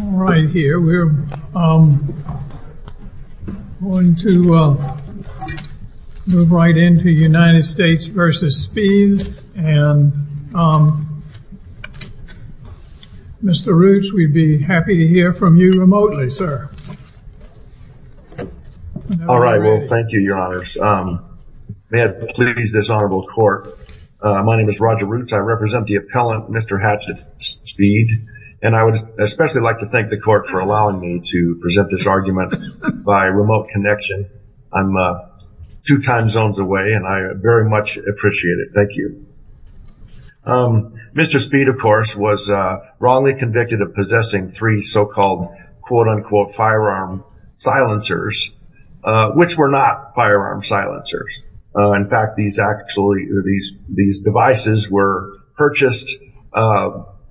All right here we're going to move right into United States v. Speed and Mr. Roots we'd be happy to hear from you remotely sir. All right well thank you your honors. May I please this honorable court my name is Roger Roots I represent the appellant Mr. Hatchet Speed and I would especially like to thank the court for allowing me to present this argument by remote connection I'm two time zones away and I very much appreciate it thank you. Mr. Speed of course was wrongly convicted of possessing three so-called quote-unquote firearm silencers which were not firearm silencers in fact these actually these these devices were purchased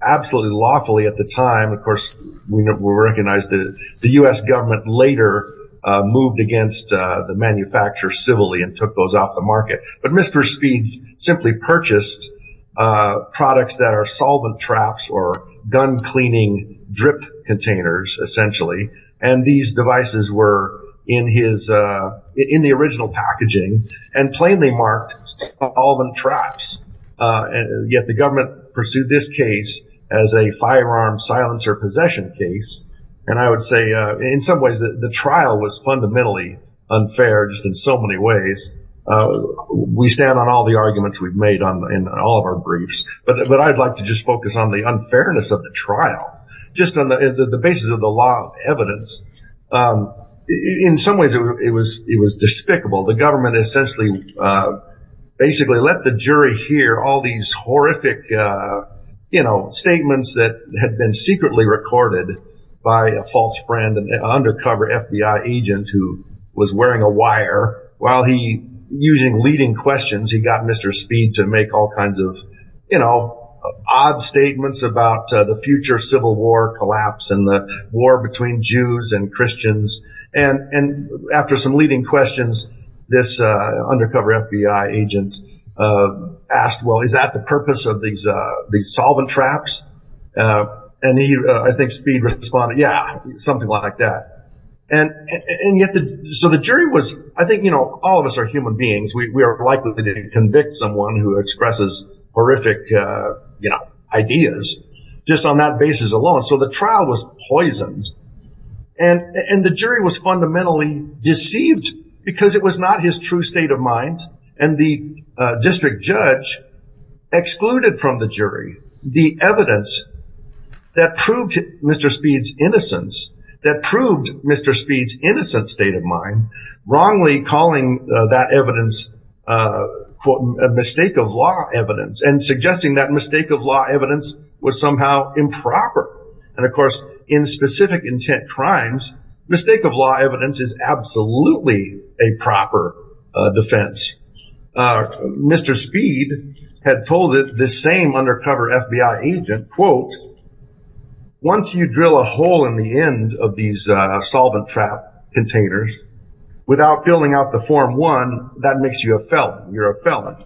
absolutely lawfully at the time of course we recognize that the US government later moved against the manufacturer civilly and took those off the market but Mr. Speed simply purchased products that are solvent traps or gun cleaning drip containers essentially and these devices were in his in the original packaging and plainly marked solvent traps and yet the government pursued this case as a firearm silencer possession case and I would say in some ways that the trial was fundamentally unfair just in so many ways we stand on all the arguments we've made on in all of our briefs but I'd like to just focus on the unfairness of the trial just on the basis of the law evidence in some ways it was it was despicable the government essentially basically let the jury hear all these horrific you know statements that had been secretly recorded by a false friend and undercover FBI agent who was wearing a wire while he using leading questions he got mr. speed to make all kinds of you know odd statements about the future civil war collapse and the war between Jews and Christians and and after some leading questions this undercover FBI agent asked well is that the purpose of these these solvent traps and he I think speed responded yeah something like that and and yet the so the jury was I think you know all of us are human beings we are likely to convict someone who expresses horrific you know ideas just on that basis alone so the trial was poisoned and and the jury was fundamentally deceived because it was not his true state of mind and the district judge excluded from the jury the evidence that proved mr. speeds innocence that proved mr. speeds state of mind wrongly calling that evidence for a mistake of law evidence and suggesting that mistake of law evidence was somehow improper and of course in specific intent crimes mistake of law evidence is absolutely a proper defense mr. speed had told it the same undercover FBI agent quote once you a hole in the end of these solvent trap containers without filling out the form one that makes you a felon you're a felon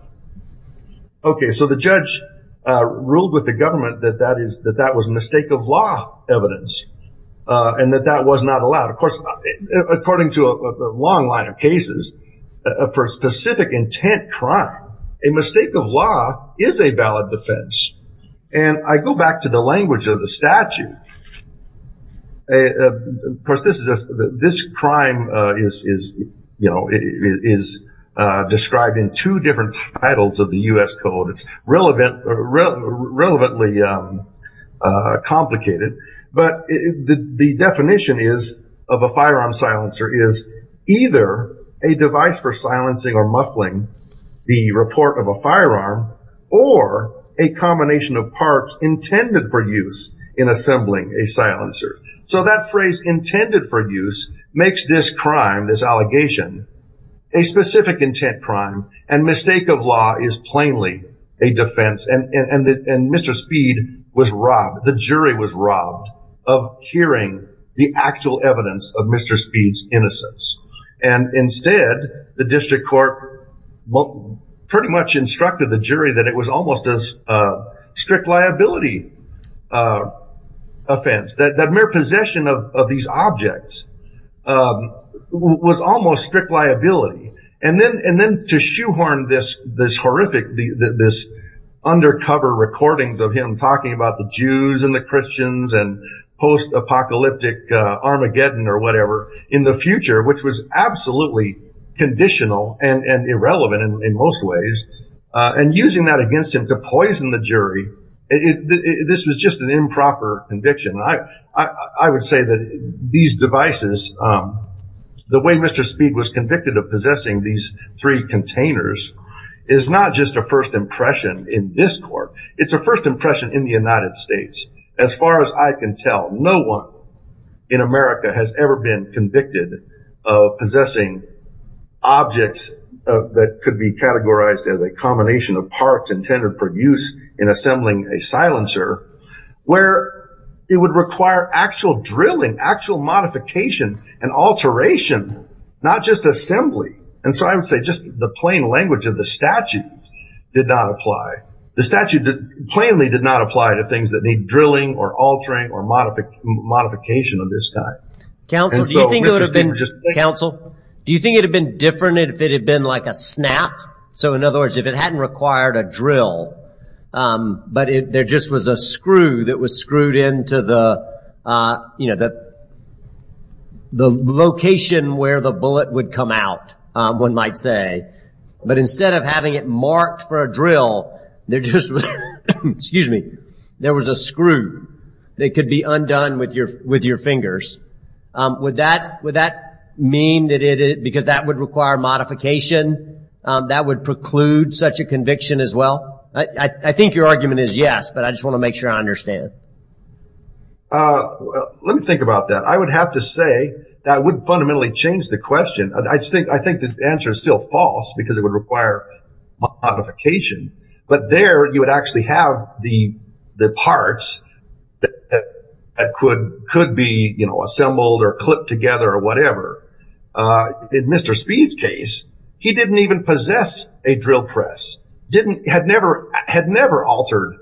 okay so the judge ruled with the government that that is that that was a mistake of law evidence and that that was not allowed of course according to a long line of cases for specific intent crime a mistake of law is a valid defense and I go back to the language of the statute of course this is this crime is you know it is described in two different titles of the US code it's relevant relevantly complicated but the definition is of a firearm silencer is either a device for silencing or muffling the report of a firearm or a combination of parts intended for use in assembling a silencer so that phrase intended for use makes this crime this allegation a specific intent crime and mistake of law is plainly a defense and and mr. speed was robbed the jury was robbed of hearing the actual evidence of mr. speeds innocence and instead the district court pretty much instructed the jury that it was almost as a strict liability offense that that mere possession of these objects was almost strict liability and then and then to shoehorn this this horrific the this undercover recordings of him talking about the Jews and the Christians and post-apocalyptic Armageddon or whatever in the future which was absolutely conditional and and irrelevant in most ways and using that against him to poison the jury if this was just an improper conviction I I would say that these devices the way mr. speed was convicted of possessing these three containers is not just a first impression in this court it's a first impression in the United States as far as I can tell no one in America has ever been convicted of possessing objects that could be categorized as a combination of parts intended for use in assembling a silencer where it would require actual drilling actual modification and alteration not just assembly and so I would say just the plain language of the statute did not apply the statute that plainly did not apply to things that need drilling or altering or modific modification of this time council do you think it would have been just council do you think it had been different if it had been like a snap so in other words if it hadn't required a drill but there just was a screw that was screwed into the you know that the location where the bullet would come out one might say but instead of having it marked for a drill they're just excuse me there was a screw they could be undone with your with your fingers would that would that mean that it is because that would require modification that would preclude such a conviction as well I think your argument is yes but I just want to make sure I understand let me think about that I would have to say that would fundamentally change the question I just think I think the answer is still false because it would require modification but there you would actually have the parts that could could be you know assembled or clipped together or whatever in mr. speed's case he didn't even possess a drill press didn't had never had never altered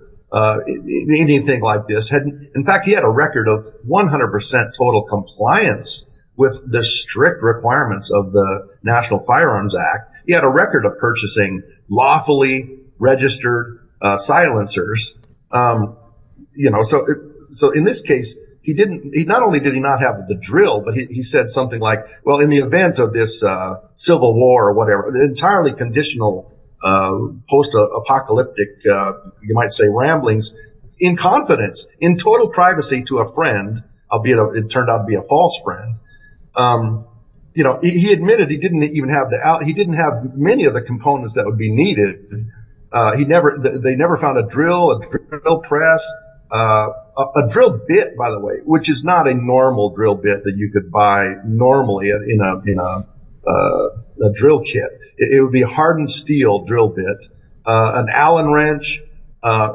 anything like this hadn't in fact he had a record of 100% total compliance with the strict requirements of the National Firearms Act he had a record of purchasing lawfully registered silencers you know so so in this case he didn't he not only did he not have the drill but he said something like well in the event of this civil war or whatever the entirely conditional post-apocalyptic you might say ramblings in confidence in total privacy to a friend albeit it turned out to be a false friend you know he didn't even have the out he didn't have many of the components that would be needed he never they never found a drill a drill press a drill bit by the way which is not a normal drill bit that you could buy normally in a you know the drill kit it would be a hardened steel drill bit an Allen wrench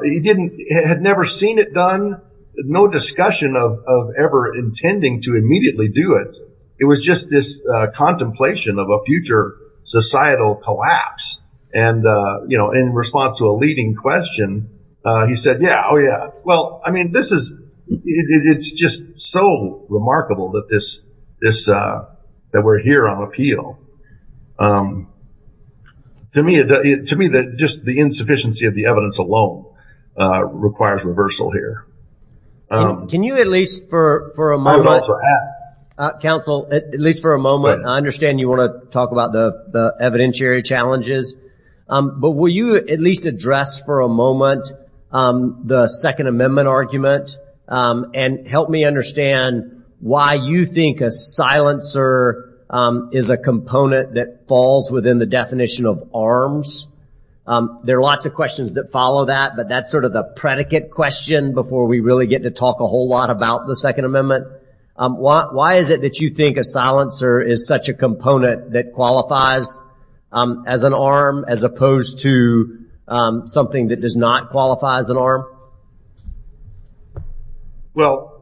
he didn't had never seen it done no discussion of ever intending to immediately do it it was just this contemplation of a future societal collapse and you know in response to a leading question he said yeah oh yeah well I mean this is it's just so remarkable that this is that we're here on appeal to me it to me that just the insufficiency of the evidence alone requires reversal here can you at least for a moment counsel at least for a moment I understand you want to talk about the evidentiary challenges but will you at least address for a moment the Second Amendment argument and help me understand why you think a silencer is a component that falls within the definition of arms there are lots of questions that follow that but that's sort of the predicate question before we really get to talk a whole lot about the Second Amendment why is it that you think a silencer is such a component that qualifies as an arm as opposed to something that does not qualify as an arm well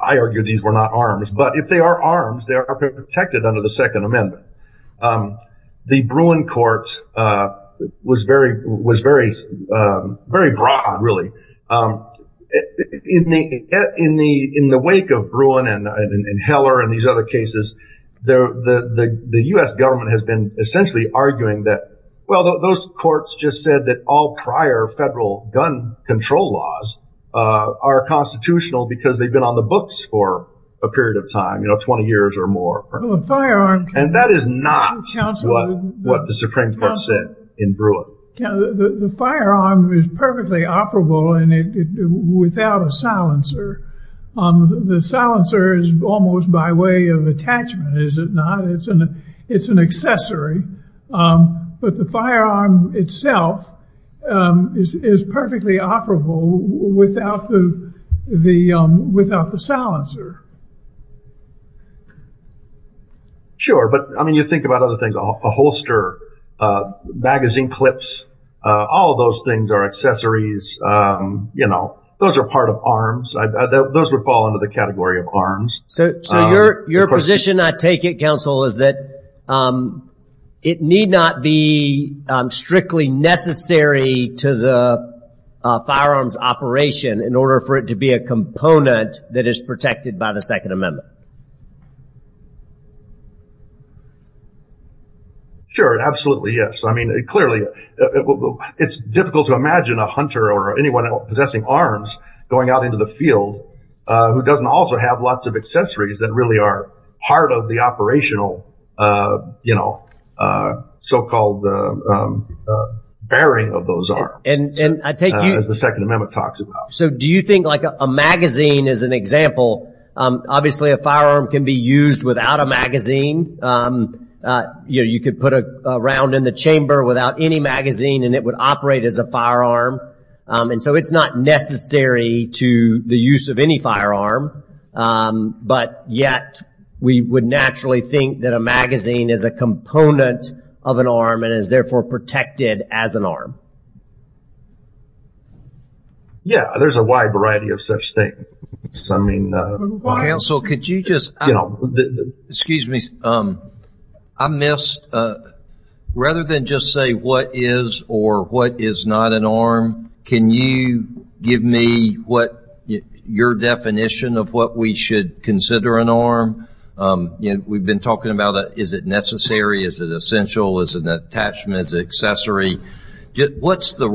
I argue these were not arms but if they are arms they are protected under the Second Amendment the Bruin court was very was very very broad really in the in the in the wake of Bruin and in Heller and these other cases there the the US government has been essentially arguing that well those courts just said that all prior federal gun control laws are constitutional because they've been on the books for a period of time you know 20 years or more and that is not what what the Supreme Court said in Bruin the firearm is perfectly operable and it without a silencer on the silencer is almost by way of attachment is it not it's an it's an accessory but the firearm itself is perfectly operable without the the without the silencer sure but I mean you think about other things off a holster magazine clips all those things are accessories you know those are part of arms those would fall under the category of arms so your position I take it counsel is that it need not be strictly necessary to the firearms operation in order for it to be a component that is protected by the Second Amendment sure absolutely yes I mean it clearly it's difficult to imagine a hunter or anyone possessing arms going out into the field who doesn't also have lots of accessories that really are part of the operational you know so-called bearing of those are and I take you as the Second Amendment talks about so do you think like a magazine is an example obviously a firearm can be used without a magazine you know you could put a round in the chamber without any magazine and it would operate as a firearm and so it's not necessary to the use of any firearm but yet we would naturally think that a magazine is a component of an arm and is therefore protected as an arm yeah there's a wide variety of such thing I mean also could you just you know excuse me I missed rather than just say what is or what is not an arm can you give me what your definition of what we should consider an arm you know we've been talking about that is it necessary is it essential is an attachment as accessory what's the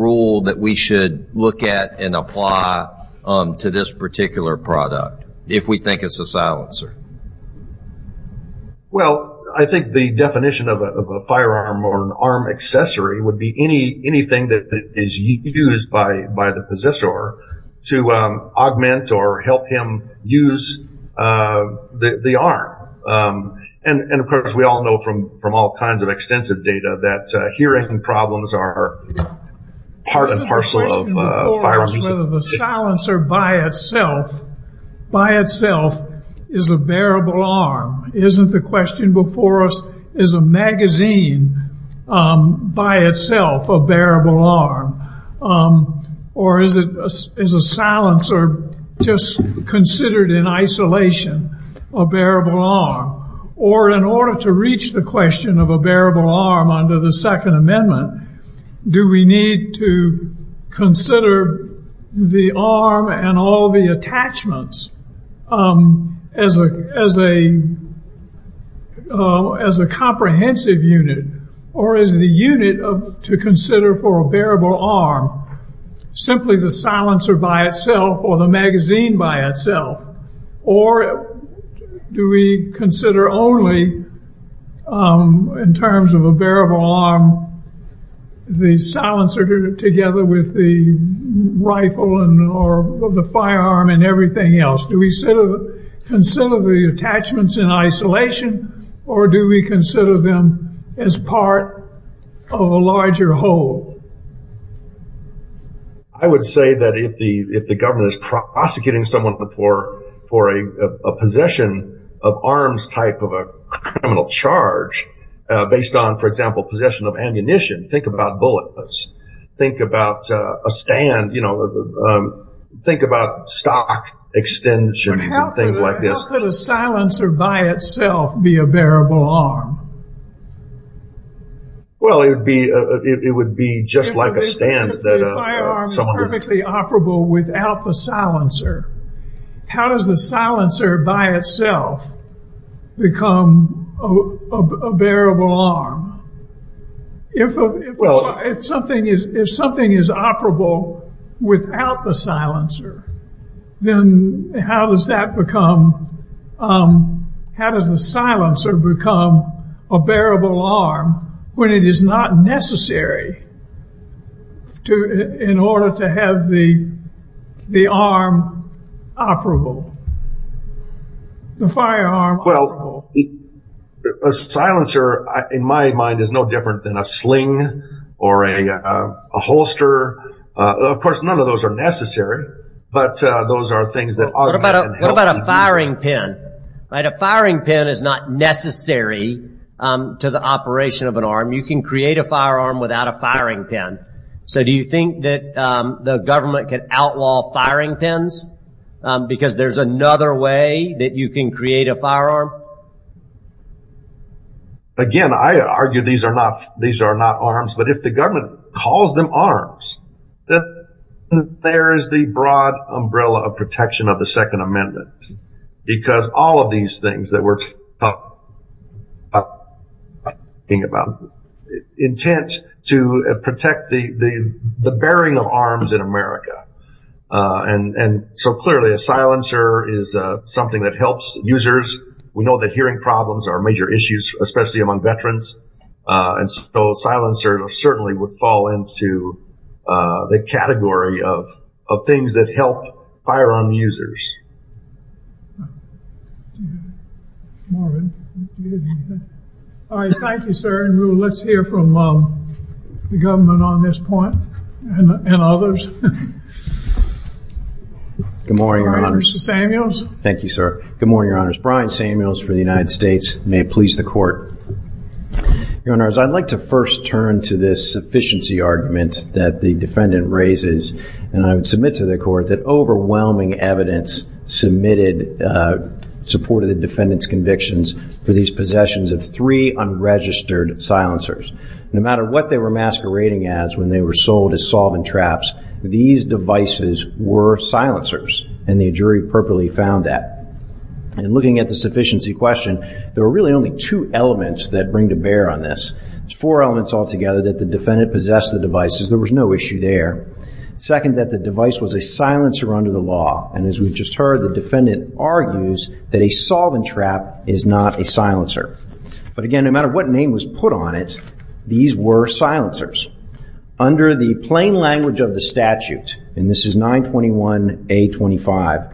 that we should look at and apply to this particular product if we think it's a silencer well I think the definition of a firearm or an arm accessory would be any anything that is used by by the possessor to augment or help him use the arm and of course we all know from from all kinds of extensive data that hearing problems are part and parcel of firearms. The silencer by itself by itself is a bearable arm isn't the question before us is a magazine by itself a bearable arm or is it is a silencer just considered in isolation a bearable arm or in order to reach the question of a bearable arm under the Second Amendment do we need to consider the arm and all the attachments as a as a as a comprehensive unit or is the unit of to consider for a bearable arm simply the silencer by itself or the magazine by itself or do we consider only in terms of a bearable arm the silencer together with the rifle and or the firearm and everything else do we sort of consider the attachments in isolation or do we say that if the if the government is prosecuting someone before for a possession of arms type of a criminal charge based on for example possession of ammunition think about bulletless think about a stand you know think about stock extension things like this. How could a silencer by itself be a bearable arm? Well it would be it would be just like a stand that someone could be operable without the silencer. How does the silencer by itself become a bearable arm? If well if something is if something is operable without the silencer then how does that become how does the silencer become a bearable arm when it is not necessary to in order to have the the arm operable the firearm. Well a silencer in my mind is no different than a sling or a holster of course none of those are necessary but those are things that are. What about a firing pin? A firing pin is not necessary to the operation of an arm you can create a firearm without a firing pin so do you think that the government can outlaw firing pins because there's another way that you can create a firearm? Again I argue these are not these are not arms but if the government calls them arms then there is the broad umbrella of protection of the Second Amendment because all of these things that we're talking about intent to protect the the the bearing of arms in America and and so clearly a silencer is something that helps users. We know that problems are major issues especially among veterans and so silencer certainly would fall into the category of of things that help firearm users. All right thank you sir and let's hear from the government on this point and others. Good morning your honors. Thank you sir. Good morning your honors. Brian Samuels for the United States. May it please the court. Your honors I'd like to first turn to this sufficiency argument that the defendant raises and I would submit to the court that overwhelming evidence submitted supported the defendant's convictions for these possessions of three unregistered silencers. No matter what they were masquerading as when they were sold as solvent traps these devices were silencers and the jury appropriately found that and looking at the sufficiency question there were really only two elements that bring to bear on this. There's four elements altogether that the defendant possessed the devices there was no issue there. Second that the device was a silencer under the law and as we've just heard the defendant argues that a solvent trap is not a silencer but again no matter what name was put on it these were silencers. Under the plain language of the statute and this is 921 A25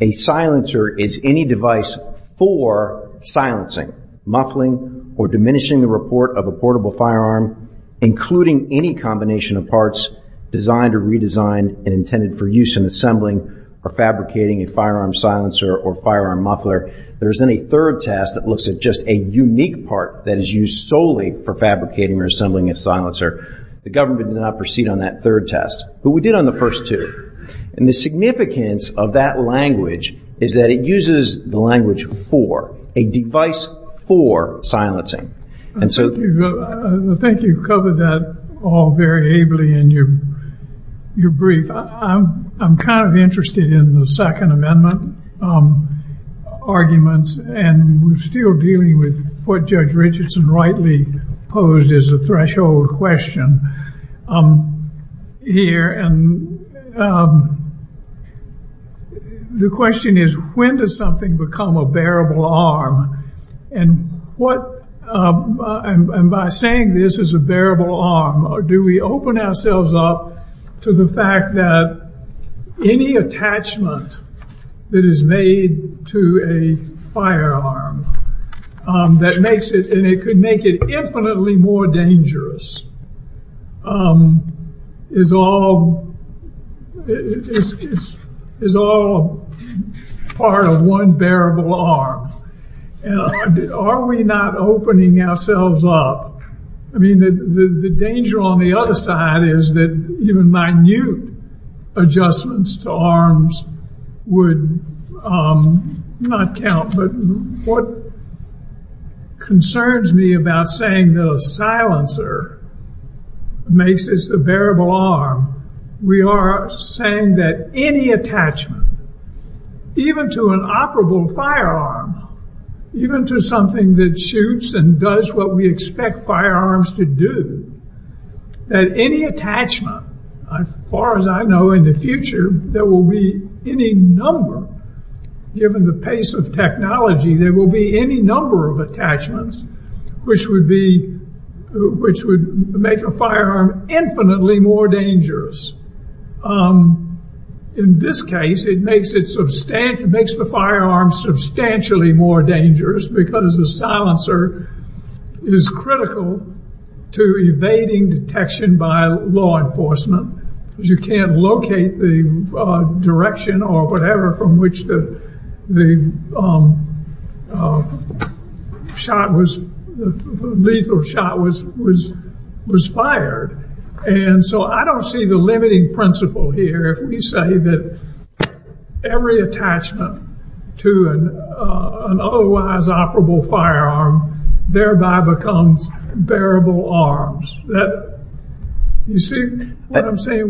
a silencer is any device for silencing, muffling, or diminishing the report of a portable firearm including any combination of parts designed or redesigned and intended for use in assembling or fabricating a firearm silencer or firearm muffler. There isn't a third test that looks at just a unique part that is used solely for fabricating or assembling a silencer. The government did not proceed on that third test but we did on the first two and the significance of that language is that it uses the language for a device for silencing. I think you've covered that all very ably in your brief. I'm kind of interested in the Second Amendment arguments and we're still dealing with what Judge Richardson rightly posed as a threshold question here and the question is when does something become a bearable arm and what and by saying this is a bearable arm or do we open ourselves up to the fact that any attachment that is made to a firearm that makes it and it could make it infinitely more dangerous is all is all part of one bearable arm and are we not opening ourselves up? I mean the danger on the other side is that even my new adjustments to arms would not count but what concerns me about saying the silencer makes this the bearable arm we are saying that any attachment even to an operable firearm even to something that shoots and does what we expect firearms to do that any attachment as far as I know in the future there will be any number given the pace of technology there will be any number of attachments which would be which would make a firearm infinitely more dangerous in this case it makes it substantial makes the firearm substantially more dangerous because the silencer is critical to evading detection by law enforcement as you can't locate the direction or whatever from which that the shot was lethal shot was was was fired and so I don't see the limiting principle here if we say that every attachment to an otherwise operable firearm thereby becomes bearable arms that you see what I'm saying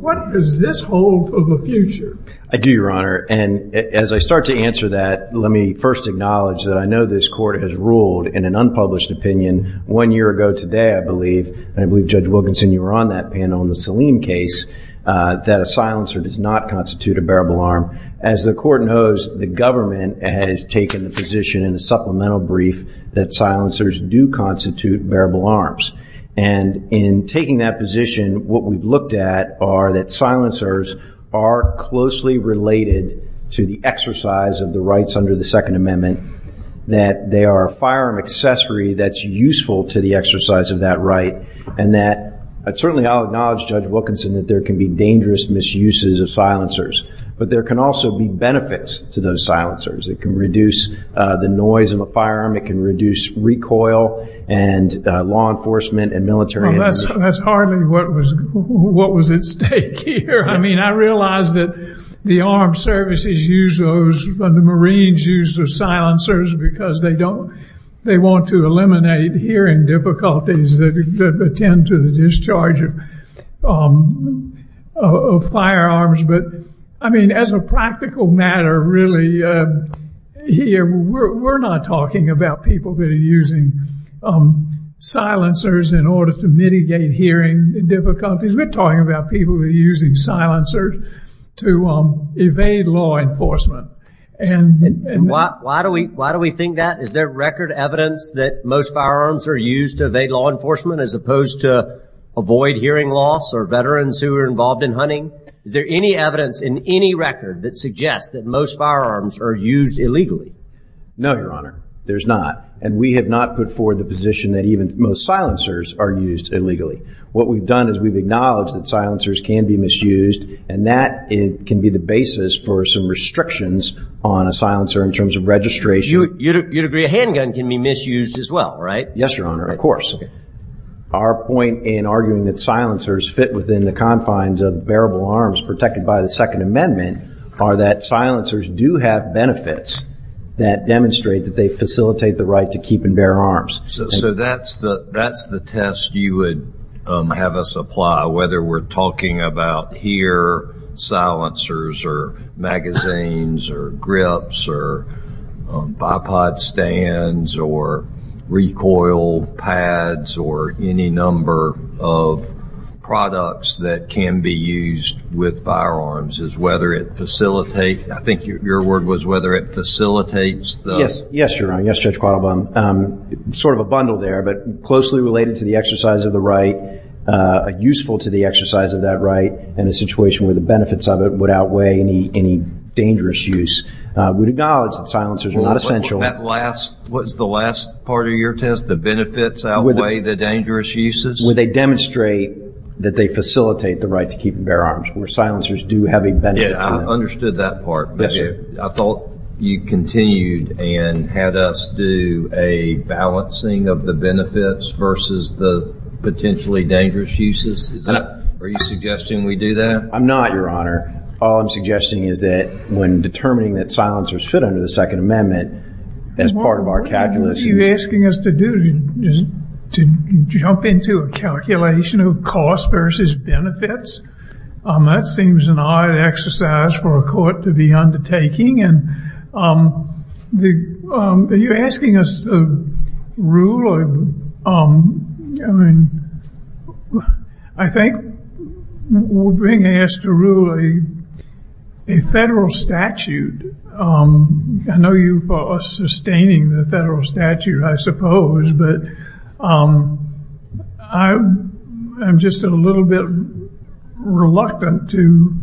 what does this hold for the future? I do your honor and as I start to answer that let me first acknowledge that I know this court has ruled in an unpublished opinion one year ago today I believe and I believe Judge Wilkinson you were on that panel in the Salim case that a silencer does not constitute a bearable arm as the court knows the government has taken the position in a supplemental brief that silencers do constitute bearable arms and in taking that position what we've looked at are that silencers are closely related to the exercise of the rights under the Second Amendment that they are a firearm accessory that's useful to the exercise of that right and that certainly I'll acknowledge Judge Wilkinson that there can be dangerous misuses of silencers but there can also be benefits to those silencers it can reduce the noise of a firearm it can reduce recoil and law enforcement and military that's hardly what was what was at stake here I mean I realized that the armed services use those from the Marines use of silencers because they don't they want to eliminate hearing difficulties that tend to the discharge of firearms but I mean as a practical matter really here we're not talking about people that are using silencers in order to mitigate hearing difficulties we're talking about people who are using silencers to evade law enforcement and why do we why do we think that is there record evidence that most firearms are used to evade law enforcement as opposed to avoid hearing loss or veterans who are involved in hunting there any evidence in any record that suggests that most firearms are used illegally no your honor there's not and we have not put forward the position that even most silencers are used illegally what we've done is we've acknowledged that silencers can be misused and that it can be the basis for some restrictions on a handgun can be misused as well right yes your honor of course our point in arguing that silencers fit within the confines of bearable arms protected by the Second Amendment are that silencers do have benefits that demonstrate that they facilitate the right to keep and bear arms so that's the that's the test you would have us apply whether we're talking about here silencers or magazines or grips or bipod stands or recoil pads or any number of products that can be used with firearms is whether it facilitate I think your word was whether it facilitates yes yes you're on yesterday's problem sort of a bundle there but closely related to the exercise of the right useful to the exercise of that right and a situation where the benefits of it would outweigh any any dangerous use would acknowledge that silencers are not essential at last what's the last part of your test the benefits outweigh the dangerous uses where they demonstrate that they facilitate the right to keep and bear arms where silencers do have a benefit I understood that part I thought you continued and had us do a balancing of the benefits versus the potentially dangerous uses are you suggesting we do that I'm not your honor I'm suggesting is that when determining that silencers fit under the Second Amendment as part of our calculus you asking us to do is to jump into a calculation of cost versus benefits that seems an odd exercise for a court to be undertaking and the you're asking us to rule I mean I think we're being asked to a federal statute I know you for sustaining the federal statute I suppose but I am just a little bit reluctant to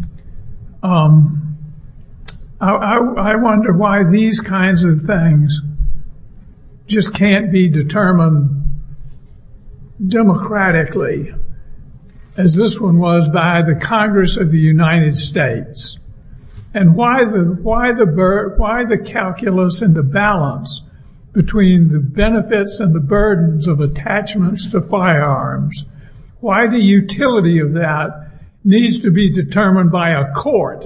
I wonder why these kinds of things just can't be determined democratically as this one was by the Congress of the United States and why the why the bird why the calculus and the balance between the benefits and the burdens of attachments to firearms why the utility of that needs to be determined by a court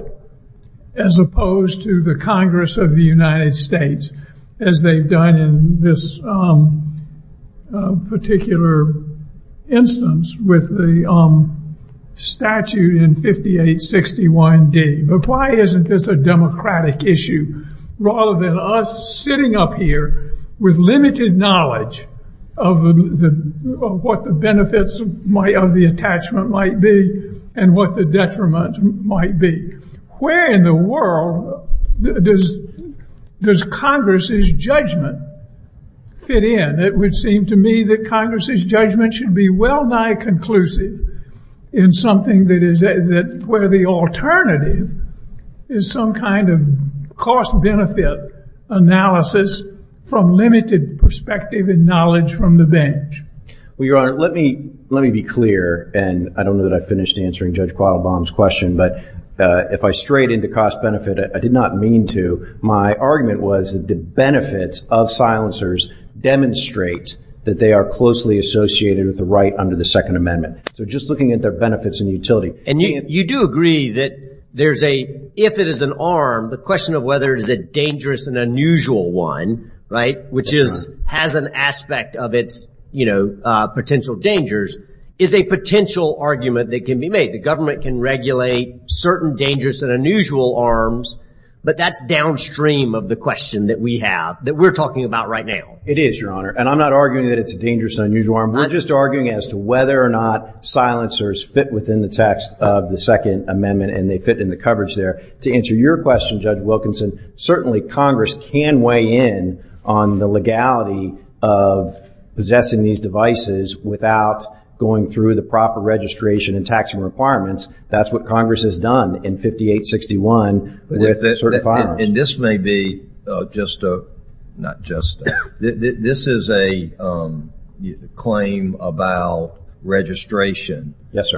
as opposed to the Congress of the United States as they've done in this particular instance with the statute in 5861 D but why isn't this a democratic issue rather than us sitting up here with limited knowledge of what the benefits might of the attachment might be and what the detriment might be where in the world does does Congress's judgment fit in it would seem to me that Congress's judgment should be well nigh conclusive in something that is a that where the alternative is some kind of cost-benefit analysis from limited perspective and knowledge from the bench well your honor let me let me be clear and I don't know that I finished answering judge qual bombs question but if I straight into cost-benefit I did not mean to my argument was the benefits of silencers demonstrate that they are associated with the right under the Second Amendment just looking at the benefits and utility and you do agree that there's a if it is an arm the question of whether it is a dangerous and unusual one right which is has an aspect of its you know potential dangers is a potential argument that can be made the government can regulate certain dangerous and unusual arms but that's downstream of the question that we have that we're talking about right now it is and I'm not arguing that it's dangerous unusual arm we're just arguing as to whether or not silencers fit within the text of the Second Amendment and they fit in the coverage there to answer your question judge Wilkinson certainly Congress can weigh in on the legality of possessing these devices without going through the proper registration and taxing requirements that's what Congress has done in 5861 and this may be just a not just this is a claim about registration yes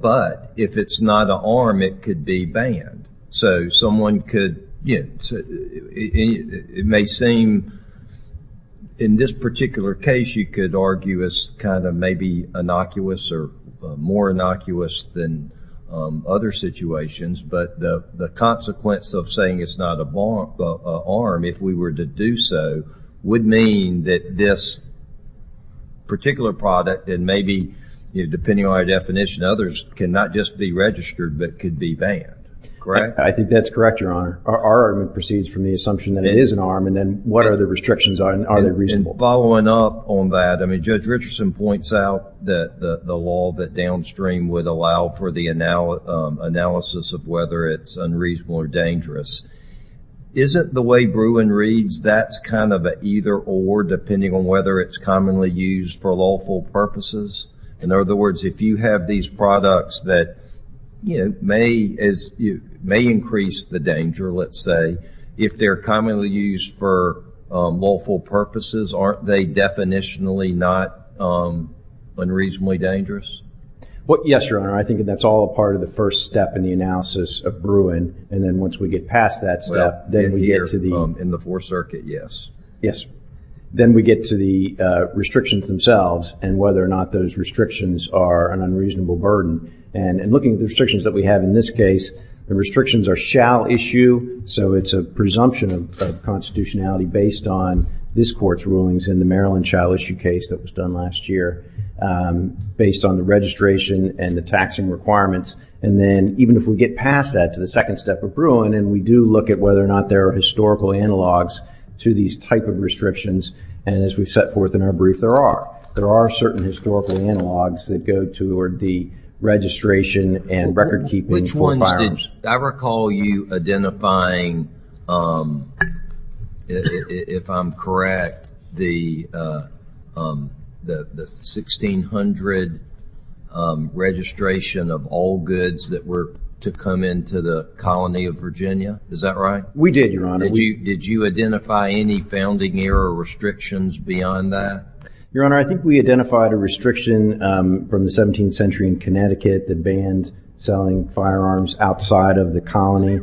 but if it's not an arm it could be banned so someone could it may seem in this particular case you could argue as kind of maybe innocuous or more innocuous than other situations but the the consequence of saying it's not a bomb arm if we were to do so would mean that this particular product and maybe depending on our definition others cannot just be registered but could be banned correct I think that's correct your honor our argument proceeds from the assumption that it is an arm and then what are the restrictions on are following up on that I mean judge Richardson points out that the law that downstream would allow for the analysis of whether it's unreasonable or dangerous isn't the way Bruin reads that's kind of either or depending on whether it's commonly used for lawful purposes in other words if you have these products that you know may as you may increase the danger let's say if they're commonly used for lawful purposes aren't they definitionally not unreasonably dangerous what yes your honor I think that's all part of the first step in the analysis of Bruin and then once we get past that stuff then we get to the in the fourth circuit yes yes then we get to the restrictions themselves and whether or not those restrictions are an unreasonable burden and and looking at the restrictions that we have in this case the restrictions are shall issue so it's a presumption of constitutionality based on this court's rulings in the Maryland shall issue case that was done last year based on the registration and the taxing requirements and then even if we get past that to the second step of Bruin and we do look at whether or not there are historical analogs to these type of restrictions and as we've set forth in our brief there are there are certain historical analogs that go to or the registration and record-keeping which ones did I recall you identifying if I'm correct the the 1600 registration of all goods that were to come into the colony of Virginia is that right we did your honor you did you identify any founding era restrictions beyond that your honor I think we identified a restriction from the 17th century in Connecticut that bans selling firearms outside of the colony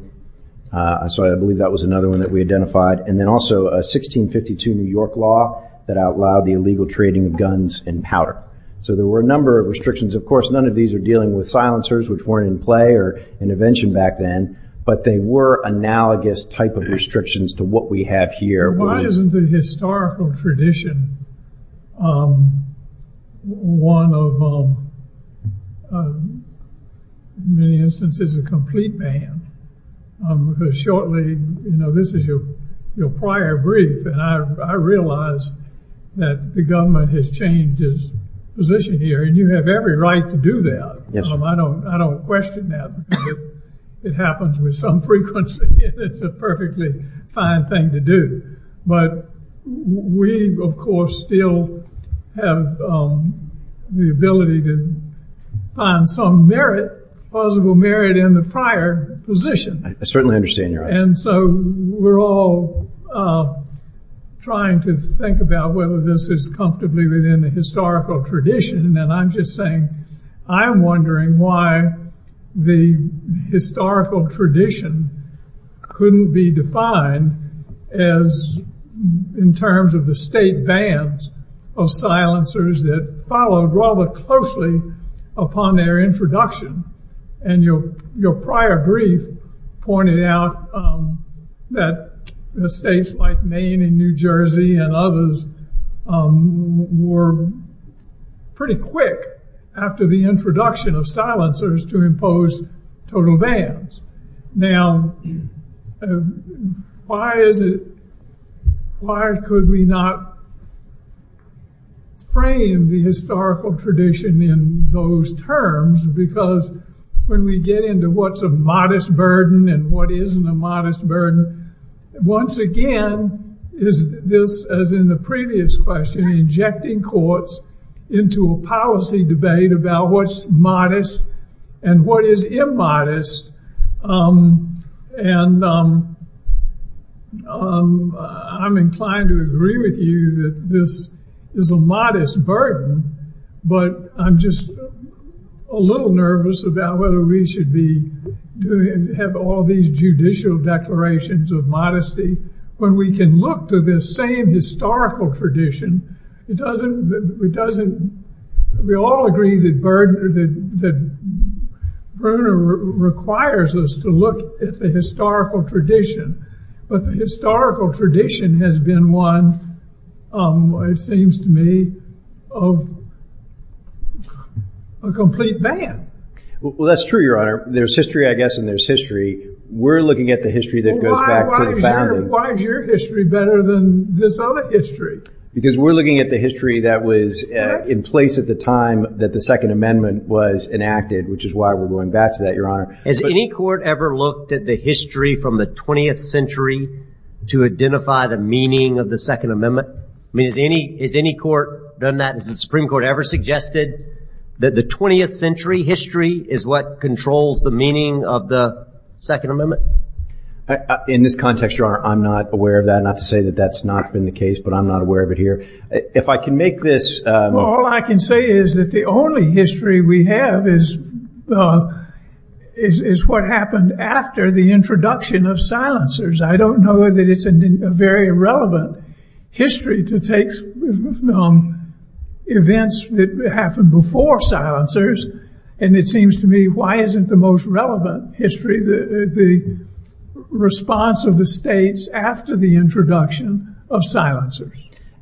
so I believe that was another one that we identified and then also a 1652 New York law that outlawed the illegal trading of guns and powder so there were a number of restrictions of course none of these are dealing with silencers which weren't in play or intervention back then but they were analogous type of restrictions to what we have here why isn't the historical tradition one of many instances a complete man shortly you know this is your your prior brief and I realized that the government has changed his position here and you have every right to do that yes I don't I don't question that it happens with some frequency it's a perfectly fine thing to do but we of course still have the ability to find some merit possible merit in the prior position I certainly understand you're and so we're all trying to think about whether this is comfortably within the historical tradition and I'm just saying I'm wondering why the historical tradition couldn't be defined as in terms of the state bans of silencers that followed rather closely upon their introduction and your your prior brief pointed out that the states like Maine and New to impose total vans now why is it why could we not frame the historical tradition in those terms because when we get into what's a modest burden and what isn't a modest burden once again is this as in the previous question injecting into a policy debate about what's modest and what is immodest and I'm inclined to agree with you that this is a modest burden but I'm just a little nervous about whether we should be doing have all these judicial declarations of modesty when we can look to this same historical tradition it doesn't it doesn't we all agree that bird that Bruno requires us to look at the historical tradition but the historical tradition has been one it seems to me of a complete ban well that's true your honor there's history I guess and there's history we're looking at the history that goes back to the family why is your history better than this other history because we're looking at the history that was in place at the time that the Second Amendment was enacted which is why we're going back to that your honor as any court ever looked at the history from the 20th century to identify the meaning of the Second Amendment I mean is any is any court done that is the Supreme Court ever suggested that the 20th century history is what controls the meaning of the Second Amendment in this context your honor I'm not aware of that not to say that that's not been the case but I'm not aware of it here if I can make this all I can say is that the only history we have is is what happened after the introduction of silencers I don't know that it's a very irrelevant history to take events that happened before silencers and it seems to me why isn't the most relevant history the response of the states after the introduction of silencers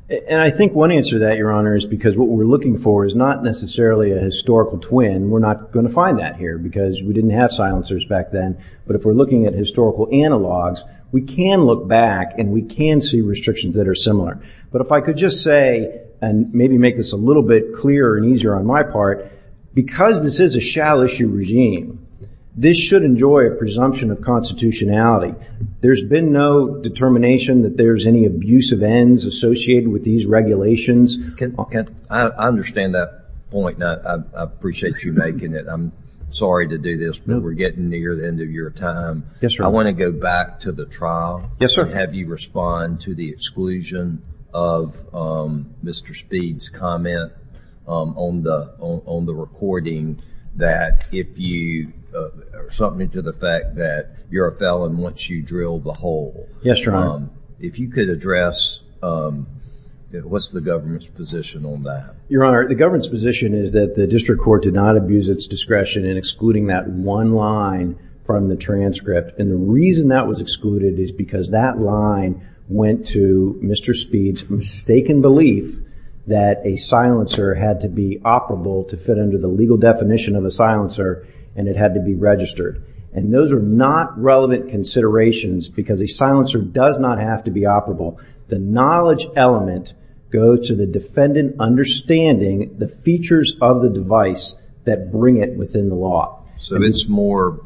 and I think one answer that your honor is because what we're looking for is not necessarily a historical twin we're not going to find that here because we didn't have silencers back then but if we're looking at historical analogs we can look back and we can see restrictions that are similar but if I could just say and maybe make this a little bit clearer and easier on my part because this is a shall issue regime this should enjoy a presumption of constitutionality there's been no determination that there's any abusive ends associated with these regulations can I understand that point I appreciate you making it I'm sorry to do this but we're getting near the end of your time yes sir I want to go back to the trial yes sir have you respond to the exclusion of mr. speeds comment on the on the recording that if you something to the fact that you're a felon once you drill the hole yes your mom if you could address what's the government's position on that your honor the government's position is that the district court did not abuse its discretion in excluding that one line from the transcript and the reason that was excluded is because that line went to mr. speeds mistaken belief that a silencer had to be operable to fit under the legal definition of a silencer and it had to be registered and those are not relevant considerations because a silencer does not have to be operable the knowledge element goes to the defendant understanding the features of the device that bring it within the law so it's more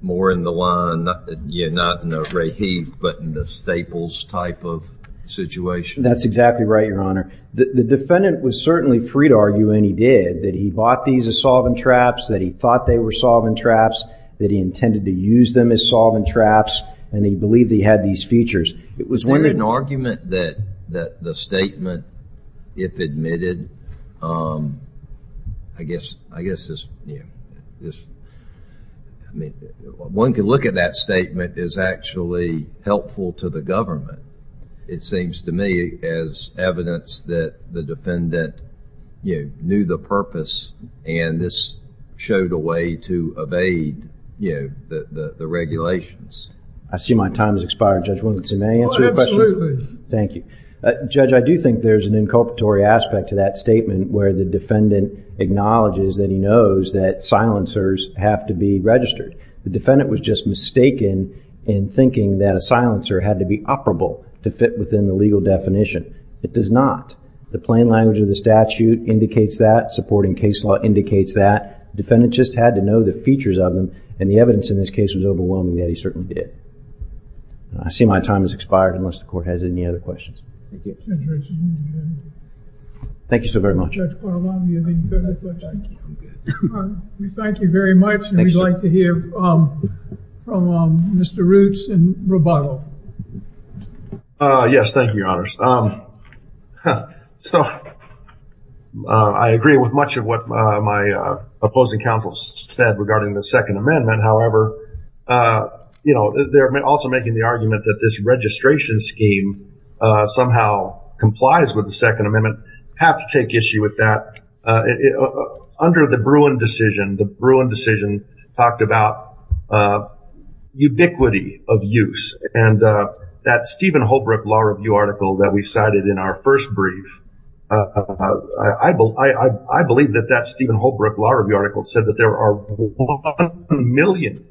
more in the line you're not in a ray he but in the staples type of situation that's exactly right your honor the defendant was certainly free to argue and he did that he bought these as solvent traps that he thought they were solvent traps that he intended to use them as solvent traps and he believed he had these features it was when an argument that that the if admitted I guess I guess this yeah this I mean one could look at that statement is actually helpful to the government it seems to me as evidence that the defendant you knew the purpose and this showed a way to evade you know the the regulations I see my time is expired judge will it's a man thank you judge I do think there's an inculpatory aspect to that statement where the defendant acknowledges that he knows that silencers have to be registered the defendant was just mistaken in thinking that a silencer had to be operable to fit within the legal definition it does not the plain language of the statute indicates that supporting case law indicates that defendant just had to know the features of them and the evidence in this case was overwhelming that he certainly did I see my time has expired unless the court has any other questions thank you so very much thank you very much we'd like to hear mr. roots and rebuttal yes thank you your honors so I agree with much of what my opposing counsel said regarding the Second Amendment however you know they're also making the argument that this registration scheme somehow complies with the Second Amendment have to take issue with that under the Bruin decision the Bruin decision talked about ubiquity of use and that Stephen Holbrook law review article that we cited in our first brief I I believe that that Stephen Holbrook law review article said that there are 1 million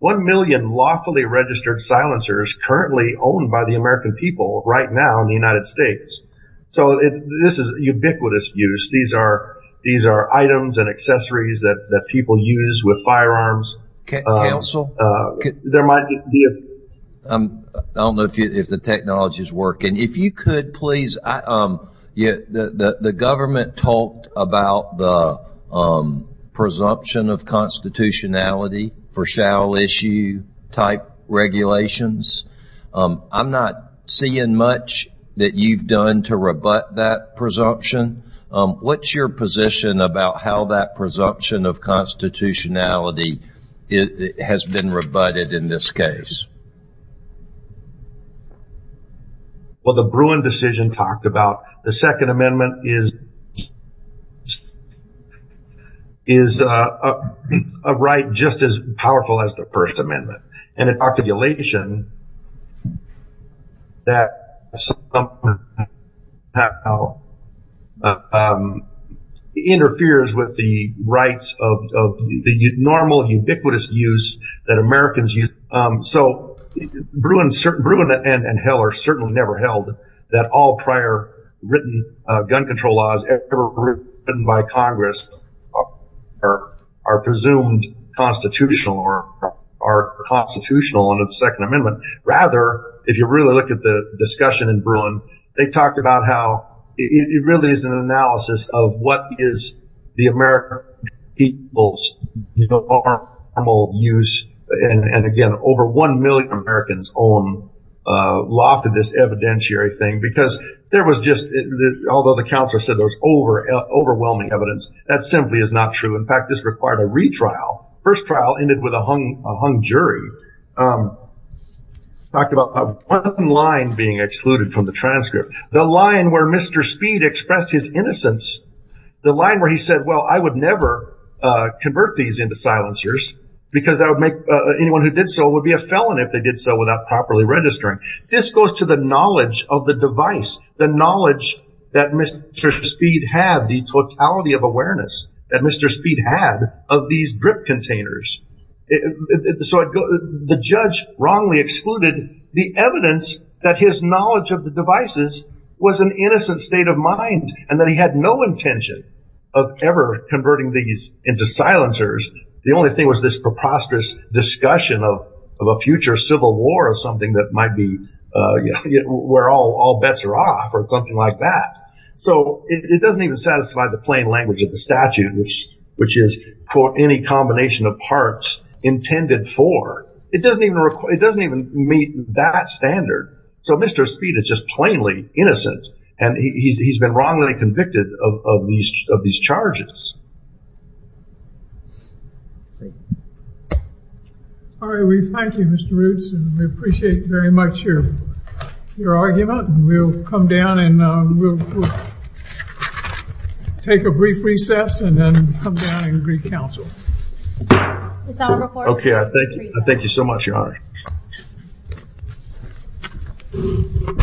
1 million lawfully registered silencers currently owned by the American people right now in the United States so it's this is a ubiquitous use these are these are items and accessories that people use with firearms council there might be a I don't know if you if the technology is working if you could please um yeah the the government talked about the presumption of constitutionality for shall issue regulations I'm not seeing much that you've done to rebut that presumption what's your position about how that presumption of constitutionality it has been rebutted in this case well the Bruin decision talked about the Second Amendment and in articulation that interferes with the rights of the normal ubiquitous use that Americans use so Bruin certain Bruin and and Heller certainly never held that all prior written gun control laws ever written by Congress are presumed constitutional or are constitutional under the Second Amendment rather if you really look at the discussion in Bruin they talked about how it really is an analysis of what is the American people's normal use and again over 1 million Americans own lofted this evidentiary thing because there was just although the counselor said there was over overwhelming evidence that simply is not true in fact this required a retrial first trial ended with a hung a hung jury talked about one line being excluded from the transcript the line where mr. speed expressed his innocence the line where he said well I would never convert these into silencers because I would make anyone who did so would be a felon if they did so without properly registering this goes to the knowledge of the device the knowledge that mr. speed had the totality of awareness that mr. speed had of these drip containers so I'd go the judge wrongly excluded the evidence that his knowledge of the devices was an innocent state of mind and that he had no intention of ever converting these into silencers the only thing was this preposterous discussion of a future civil war or something that might be where all bets are off or something like that so it doesn't even satisfy the plain language of the statute which which is for any combination of parts intended for it doesn't even require it doesn't even meet that standard so mr. speed is just plainly innocent and he's been wrongly convicted of these of these charges all right we thank you mr. roots we appreciate very much your your argument we'll come down and take a brief recess and then come down and greet counsel okay I thank you I thank you so much your honor